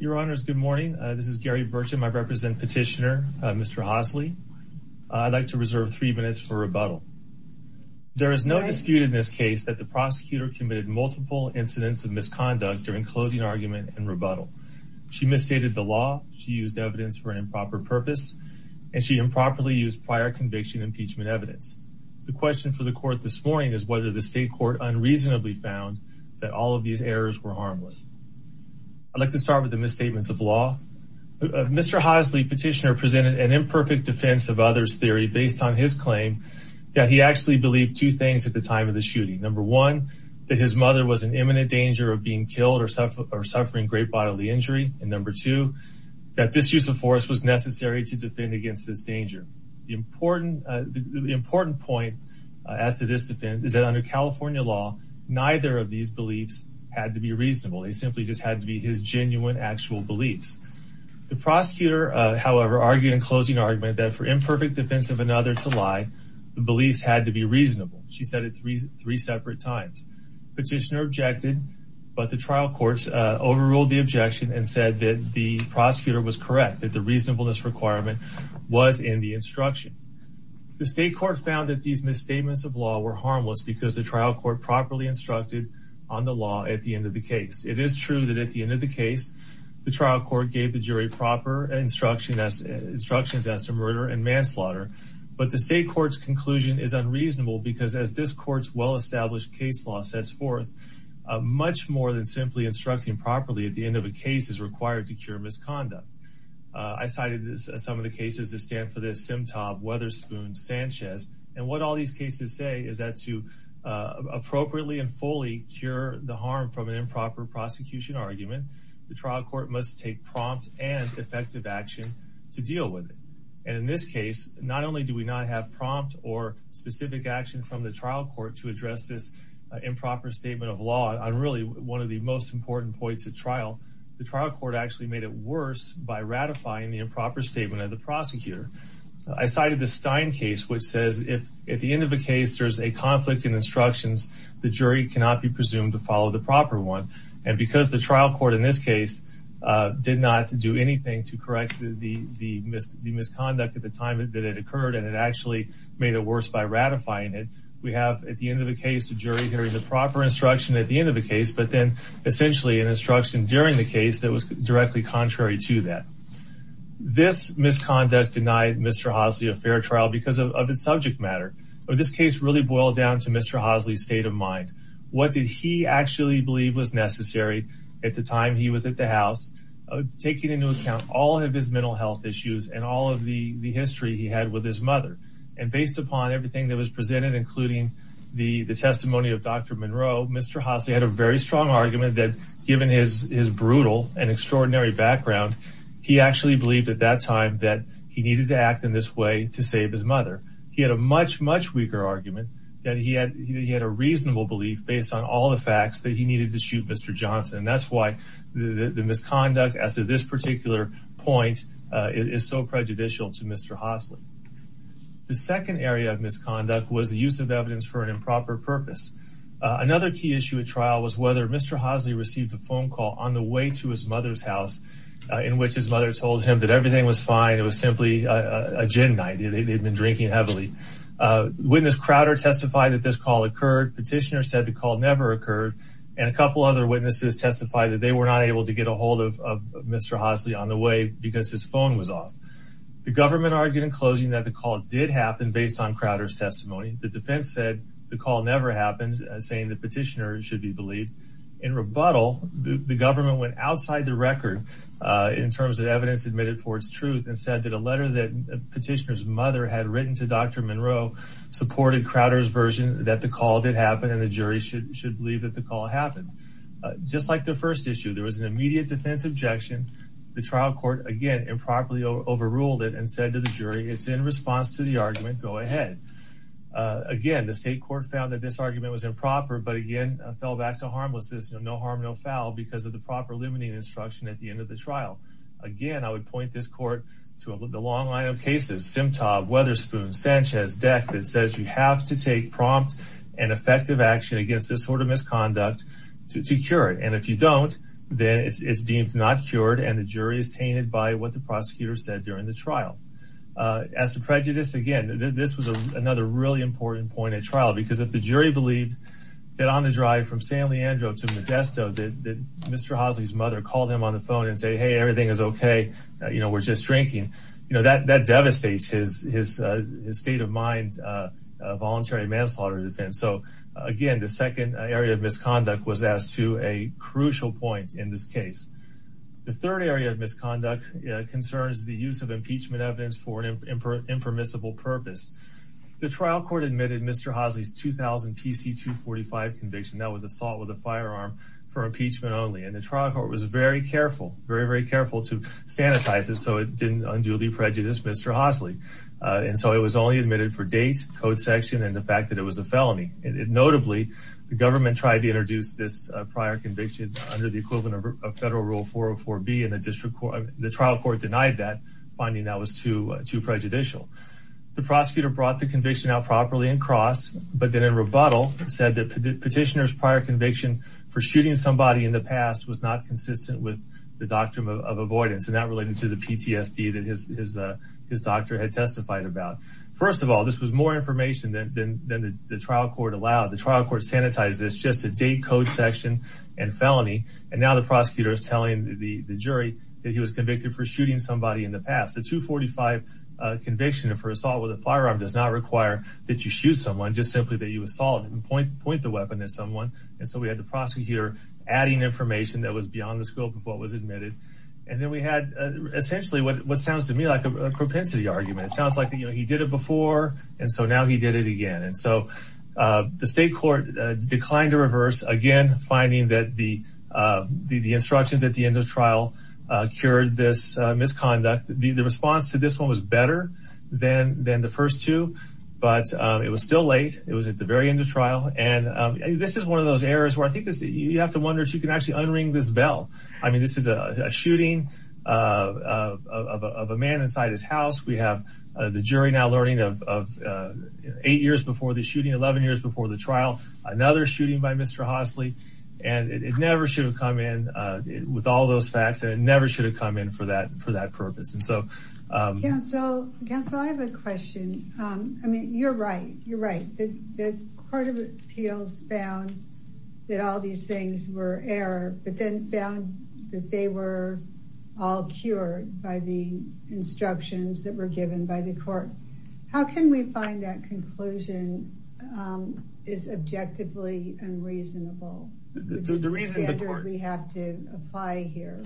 your honors good morning this is Gary Bertram I represent petitioner mr. Hosley I'd like to reserve three minutes for rebuttal there is no dispute in this case that the prosecutor committed multiple incidents of misconduct during closing argument and rebuttal she misstated the law she used evidence for an improper purpose and she improperly used prior conviction impeachment evidence the question for the court this morning is whether the state court unreasonably found that all of these errors were harmless I'd like to start with the misstatements of law mr. Hosley petitioner presented an imperfect defense of others theory based on his claim that he actually believed two things at the time of the shooting number one that his mother was an imminent danger of being killed or suffer or suffering great bodily injury and number two that this use of force was necessary to defend against this danger the important the important point as to this defense is that under California law neither of these beliefs had to be reasonable he simply just had to be his genuine actual beliefs the prosecutor however argued in closing argument that for imperfect defense of another to lie the beliefs had to be reasonable she said it three separate times petitioner objected but the trial courts overruled the objection and said that the prosecutor was correct that the reasonableness requirement was in the instruction the state court found that these misstatements of law were harmless because the trial court properly instructed on the law at the end of the case it is true that at the end of the case the trial court gave the jury proper instruction as instructions as to murder and manslaughter but the state courts conclusion is unreasonable because as this courts well-established case law sets forth much more than simply instructing properly at the end of a case is required to cure misconduct I cited this as some of the cases that stand for this sim top Sanchez and what all these cases say is that to appropriately and fully cure the harm from an improper prosecution argument the trial court must take prompt and effective action to deal with it and in this case not only do we not have prompt or specific action from the trial court to address this improper statement of law I'm really one of the most important points at trial the trial court actually made it worse by ratifying the improper statement of the Stein case which says if at the end of the case there's a conflict in instructions the jury cannot be presumed to follow the proper one and because the trial court in this case did not do anything to correct the misconduct at the time that it occurred and it actually made it worse by ratifying it we have at the end of the case the jury hearing the proper instruction at the end of the case but then essentially an instruction during the case that was because of the subject matter of this case really boiled down to mr. Hosley state of mind what did he actually believe was necessary at the time he was at the house taking into account all of his mental health issues and all of the the history he had with his mother and based upon everything that was presented including the the testimony of dr. Monroe mr. Hosley had a very strong argument that given his is brutal and extraordinary background he actually believed at that time that he needed to act in this way to save his mother he had a much much weaker argument that he had he had a reasonable belief based on all the facts that he needed to shoot mr. Johnson that's why the the misconduct as to this particular point is so prejudicial to mr. Hosley the second area of misconduct was the use of evidence for an improper purpose another key issue at trial was whether mr. Hosley received a phone call on the way to his mother's house in which his mother told him that everything was fine it was simply a gin night they'd been drinking heavily witness Crowder testified that this call occurred petitioner said the call never occurred and a couple other witnesses testified that they were not able to get a hold of mr. Hosley on the way because his phone was off the government argued in closing that the call did happen based on Crowder's testimony the defense said the call never happened saying the petitioner should be believed in government went outside the record in terms of evidence admitted for its truth and said that a letter that petitioner's mother had written to dr. Monroe supported Crowder's version that the call did happen and the jury should should believe that the call happened just like the first issue there was an immediate defense objection the trial court again and properly overruled it and said to the jury it's in response to the argument go ahead again the state court found that this argument was improper but again fell back to foul because of the proper limiting instruction at the end of the trial again I would point this court to the long line of cases Simtah Weatherspoon Sanchez deck that says you have to take prompt and effective action against this sort of misconduct to cure it and if you don't then it's deemed not cured and the jury is tainted by what the prosecutor said during the trial as the prejudice again this was a another really important point at trial because if the mr. Housley's mother called him on the phone and say hey everything is okay you know we're just drinking you know that that devastates his his state of mind voluntary manslaughter defense so again the second area of misconduct was asked to a crucial point in this case the third area of misconduct concerns the use of impeachment evidence for an impermissible purpose the trial court admitted mr. Housley's 2000 PC 245 conviction that was assault with a and the trial court was very careful very very careful to sanitize it so it didn't undo the prejudice mr. Housley and so it was only admitted for date code section and the fact that it was a felony it notably the government tried to introduce this prior conviction under the equivalent of federal rule 404 B in the district court the trial court denied that finding that was too too prejudicial the prosecutor brought the conviction out properly and cross but then in rebuttal said that petitioners prior conviction for shooting somebody in the past was not consistent with the doctrine of avoidance and that related to the PTSD that his doctor had testified about first of all this was more information than the trial court allowed the trial court sanitized this just a date code section and felony and now the prosecutor is telling the jury that he was convicted for shooting somebody in the past the 245 conviction and for assault with a firearm does not require that you shoot someone just simply that you assault and point the weapon at someone and so we had the information that was beyond the scope of what was admitted and then we had essentially what sounds to me like a propensity argument it sounds like you know he did it before and so now he did it again and so the state court declined to reverse again finding that the the instructions at the end of trial cured this misconduct the response to this one was better than than the first two but it was still late it was at the very end of trial and this is one of those errors where I think is that you have to wonder if you can actually unring this bell I mean this is a shooting of a man inside his house we have the jury now learning of eight years before the shooting 11 years before the trial another shooting by mr. Hossley and it never should have come in with all those facts and never should have come in for that for that purpose and so I have a that all these things were error but then found that they were all cured by the instructions that were given by the court how can we find that conclusion is objectively unreasonable the reason we have to apply here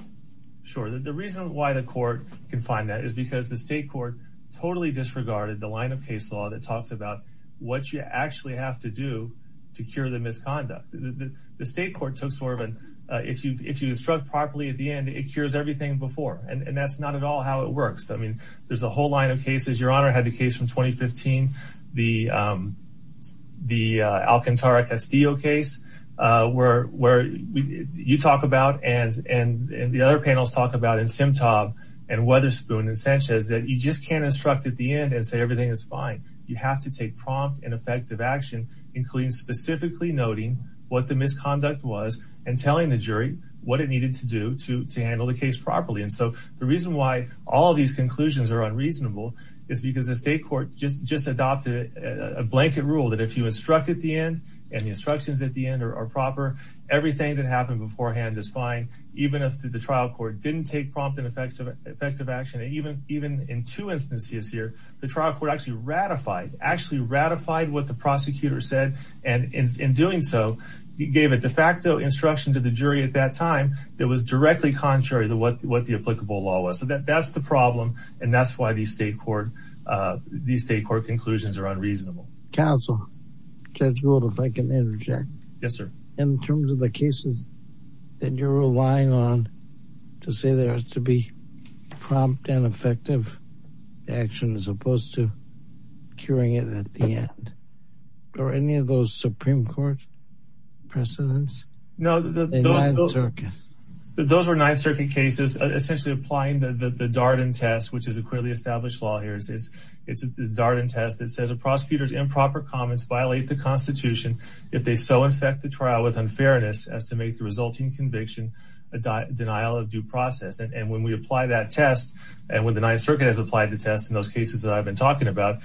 sure that the reason why the court can find that is because the state court totally disregarded the line of case law that talks about what you actually have to do to cure the misconduct the state court took sort of and if you if you instruct properly at the end it cures everything before and that's not at all how it works I mean there's a whole line of cases your honor had the case from 2015 the the Alcantara Castillo case where where you talk about and and the other panels talk about in Simtom and Weatherspoon and Sanchez that you just can't instruct at the end and say everything is fine you have to take prompt and effective action including specifically noting what the misconduct was and telling the jury what it needed to do to to handle the case properly and so the reason why all these conclusions are unreasonable is because the state court just just adopted a blanket rule that if you instruct at the end and the instructions at the end are proper everything that happened beforehand is fine even if the trial court didn't take prompt and effective effective action and even even in two instances here the trial court actually ratified actually ratified what the and in doing so he gave a de facto instruction to the jury at that time that was directly contrary to what what the applicable law was so that that's the problem and that's why these state court these state court conclusions are unreasonable. Counsel Judge Gould if I can interject. Yes sir. In terms of the cases that you're relying on to say there has to be prompt and effective action as any of those Supreme Court precedents? No those were Ninth Circuit cases essentially applying the the Darden test which is a clearly established law here is it's a Darden test that says a prosecutor's improper comments violate the Constitution if they so infect the trial with unfairness as to make the resulting conviction a denial of due process and when we apply that test and when the Ninth Circuit has applied the test in those cases that I've been talking about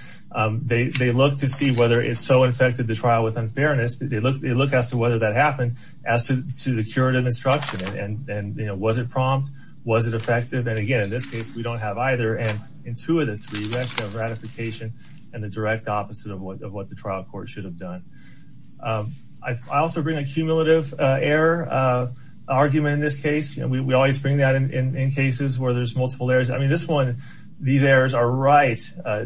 they they look to see whether it's so infected the trial with unfairness they look they look as to whether that happened as to the curative instruction and and you know was it prompt was it effective and again in this case we don't have either and in two of the three ratification and the direct opposite of what the trial court should have done. I also bring a cumulative error argument in this case and we always bring that in cases where there's multiple errors I mean this one these errors are right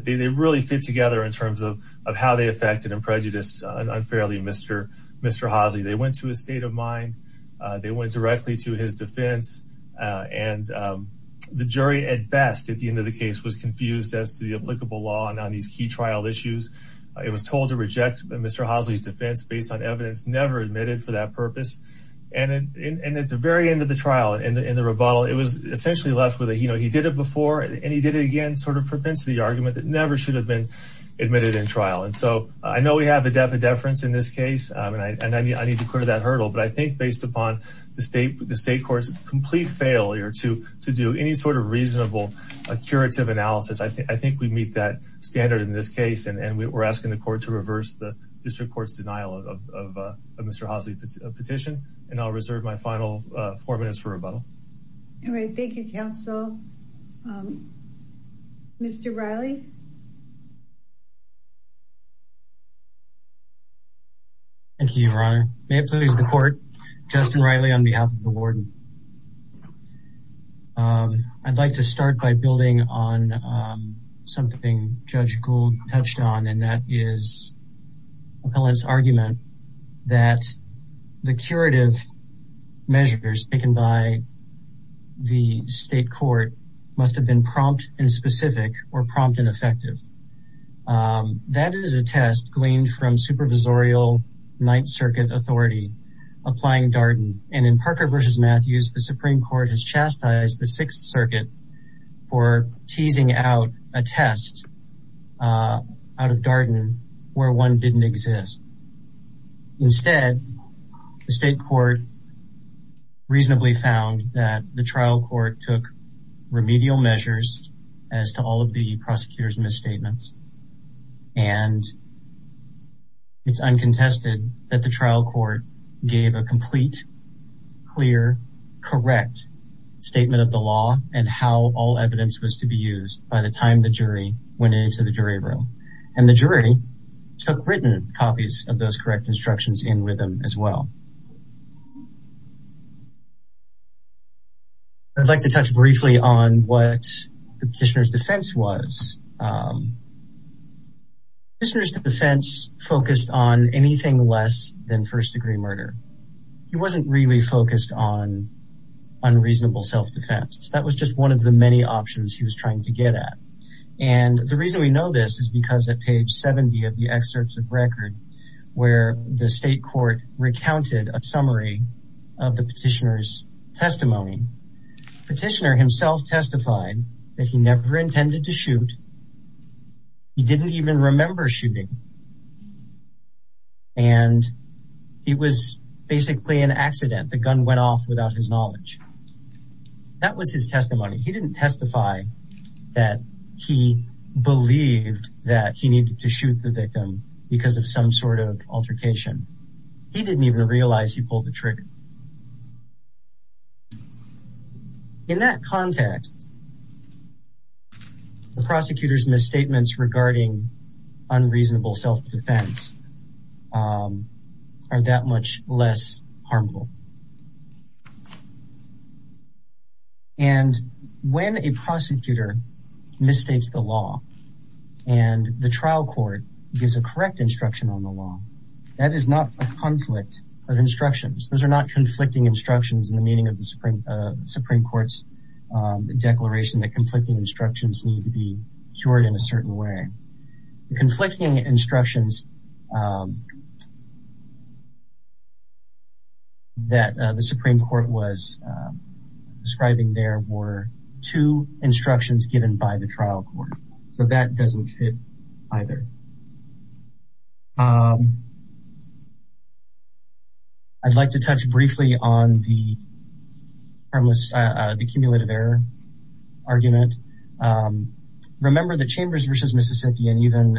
they really fit together in terms of of how they affected and prejudiced unfairly Mr. Mr. Hosley they went to a state of mind they went directly to his defense and the jury at best at the end of the case was confused as to the applicable law and on these key trial issues it was told to reject Mr. Hosley's defense based on evidence never admitted for that purpose and and at the very end of trial and in the rebuttal it was essentially left with a you know he did it before and he did it again sort of propensity argument that never should have been admitted in trial and so I know we have a depth of deference in this case and I mean I need to clear that hurdle but I think based upon the state the state courts complete failure to to do any sort of reasonable a curative analysis I think we meet that standard in this case and we were asking the court to reverse the district courts denial of Mr. Hosley petition and I'll reserve my final four minutes for rebuttal all right thank you counsel mr. Riley thank you your honor may it please the court Justin Riley on behalf of the warden I'd like to start by building on something judge Gould touched on and that is pellets argument that the curative measures taken by the state court must have been prompt and specific or prompt and effective that is a test gleaned from Supervisorial Ninth Circuit Authority applying Darden and in Parker versus Matthews the Supreme Court has out of Darden where one didn't exist instead the state court reasonably found that the trial court took remedial measures as to all of the prosecutors misstatements and it's uncontested that the trial court gave a complete clear correct statement of the law and how all evidence was to be used by the time the case of the jury room and the jury took written copies of those correct instructions in with them as well I'd like to touch briefly on what the petitioner's defense was listeners to the fence focused on anything less than first-degree murder he wasn't really focused on unreasonable self-defense that was just one of the many options he reason we know this is because at page 70 of the excerpts of record where the state court recounted a summary of the petitioner's testimony petitioner himself testified that he never intended to shoot he didn't even remember shooting and it was basically an accident the gun went off without his that he needed to shoot the victim because of some sort of altercation he didn't even realize he pulled the trigger in that context the prosecutors misstatements regarding unreasonable self-defense are that much less harmful and when a prosecutor misstates the law and the trial court gives a correct instruction on the law that is not a conflict of instructions those are not conflicting instructions in the meaning of the Supreme Supreme Court's declaration that conflicting instructions need to be cured in a the Supreme Court was describing there were two instructions given by the trial court so that doesn't fit either I'd like to touch briefly on the the cumulative error argument remember the chambers versus Mississippi and even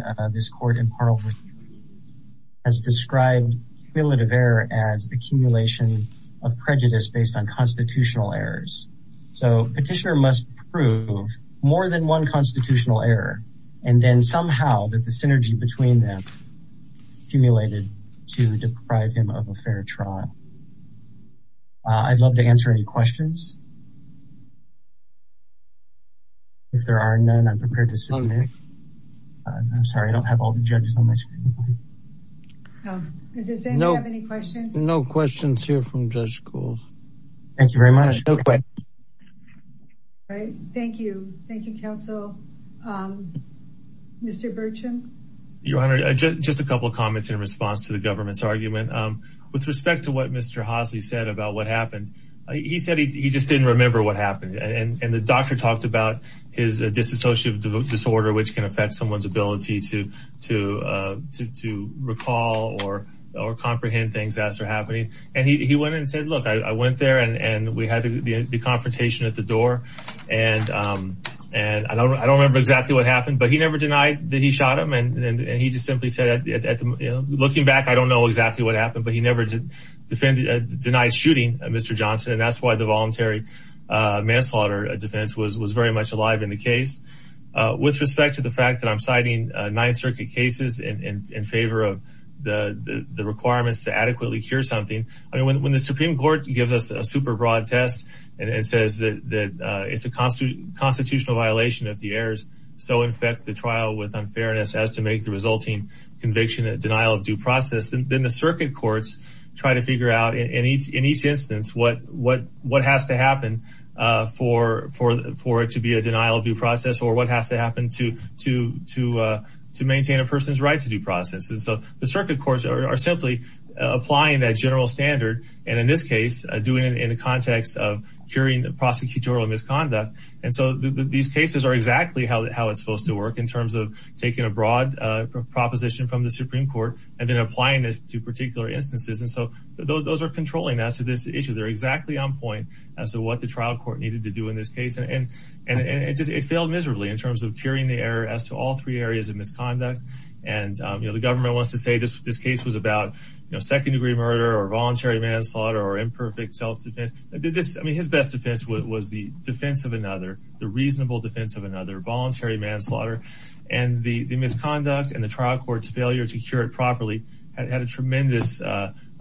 as described as accumulation of prejudice based on constitutional errors so petitioner must prove more than one constitutional error and then somehow that the synergy between them accumulated to deprive him of a fair trial I'd love to answer any questions if there are none I'm prepared to send I'm sorry I don't have all the judges on my screen no questions no questions here from judge schools thank you very much okay thank you thank you counsel mr. Burcham your honor just a couple of comments in response to the government's argument with respect to what mr. Hosni said about what happened he said he just didn't remember what happened and and the doctor talked about his disassociative disorder which can affect someone's ability to to to recall or or comprehend things after happening and he went and said look I went there and and we had the confrontation at the door and and I don't remember exactly what happened but he never denied that he shot him and he just simply said at looking back I don't know exactly what happened but he never defended denied shooting mr. Johnson and that's why the voluntary manslaughter defense was was very much alive in the case with respect to the fact that I'm citing Ninth Circuit cases in favor of the the requirements to adequately cure something I mean when the Supreme Court gives us a super broad test and says that that it's a constant constitutional violation of the errors so in fact the trial with unfairness as to make the resulting conviction a denial of due process and then the circuit courts try to figure out in each in each instance what what what has to happen for for for it to be a denial of due process or what has to happen to to to to maintain a person's right to due process and so the circuit courts are simply applying that general standard and in this case doing it in the context of curing the prosecutorial misconduct and so these cases are exactly how it's supposed to work in terms of taking a broad proposition from the Supreme Court and then applying it to particular instances and so those are controlling us to this issue they're exactly on point as to what the trial court needed to do in this case and and it just it failed miserably in terms of curing the error as to all three areas of misconduct and you know the government wants to say this this case was about you know second-degree murder or voluntary manslaughter or imperfect self-defense I did this I mean his best defense was the defense of another the reasonable defense of another voluntary manslaughter and the the misconduct and trial courts failure to cure it properly had had a tremendous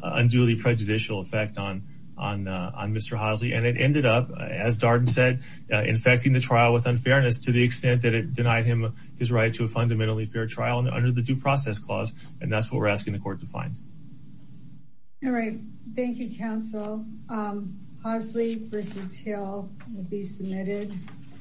unduly prejudicial effect on on on mr. Housley and it ended up as Darden said infecting the trial with unfairness to the extent that it denied him his right to a fundamentally fair trial and under the due process clause and that's what we're asking the court to find all right thank you counsel Housley versus Hill be submitted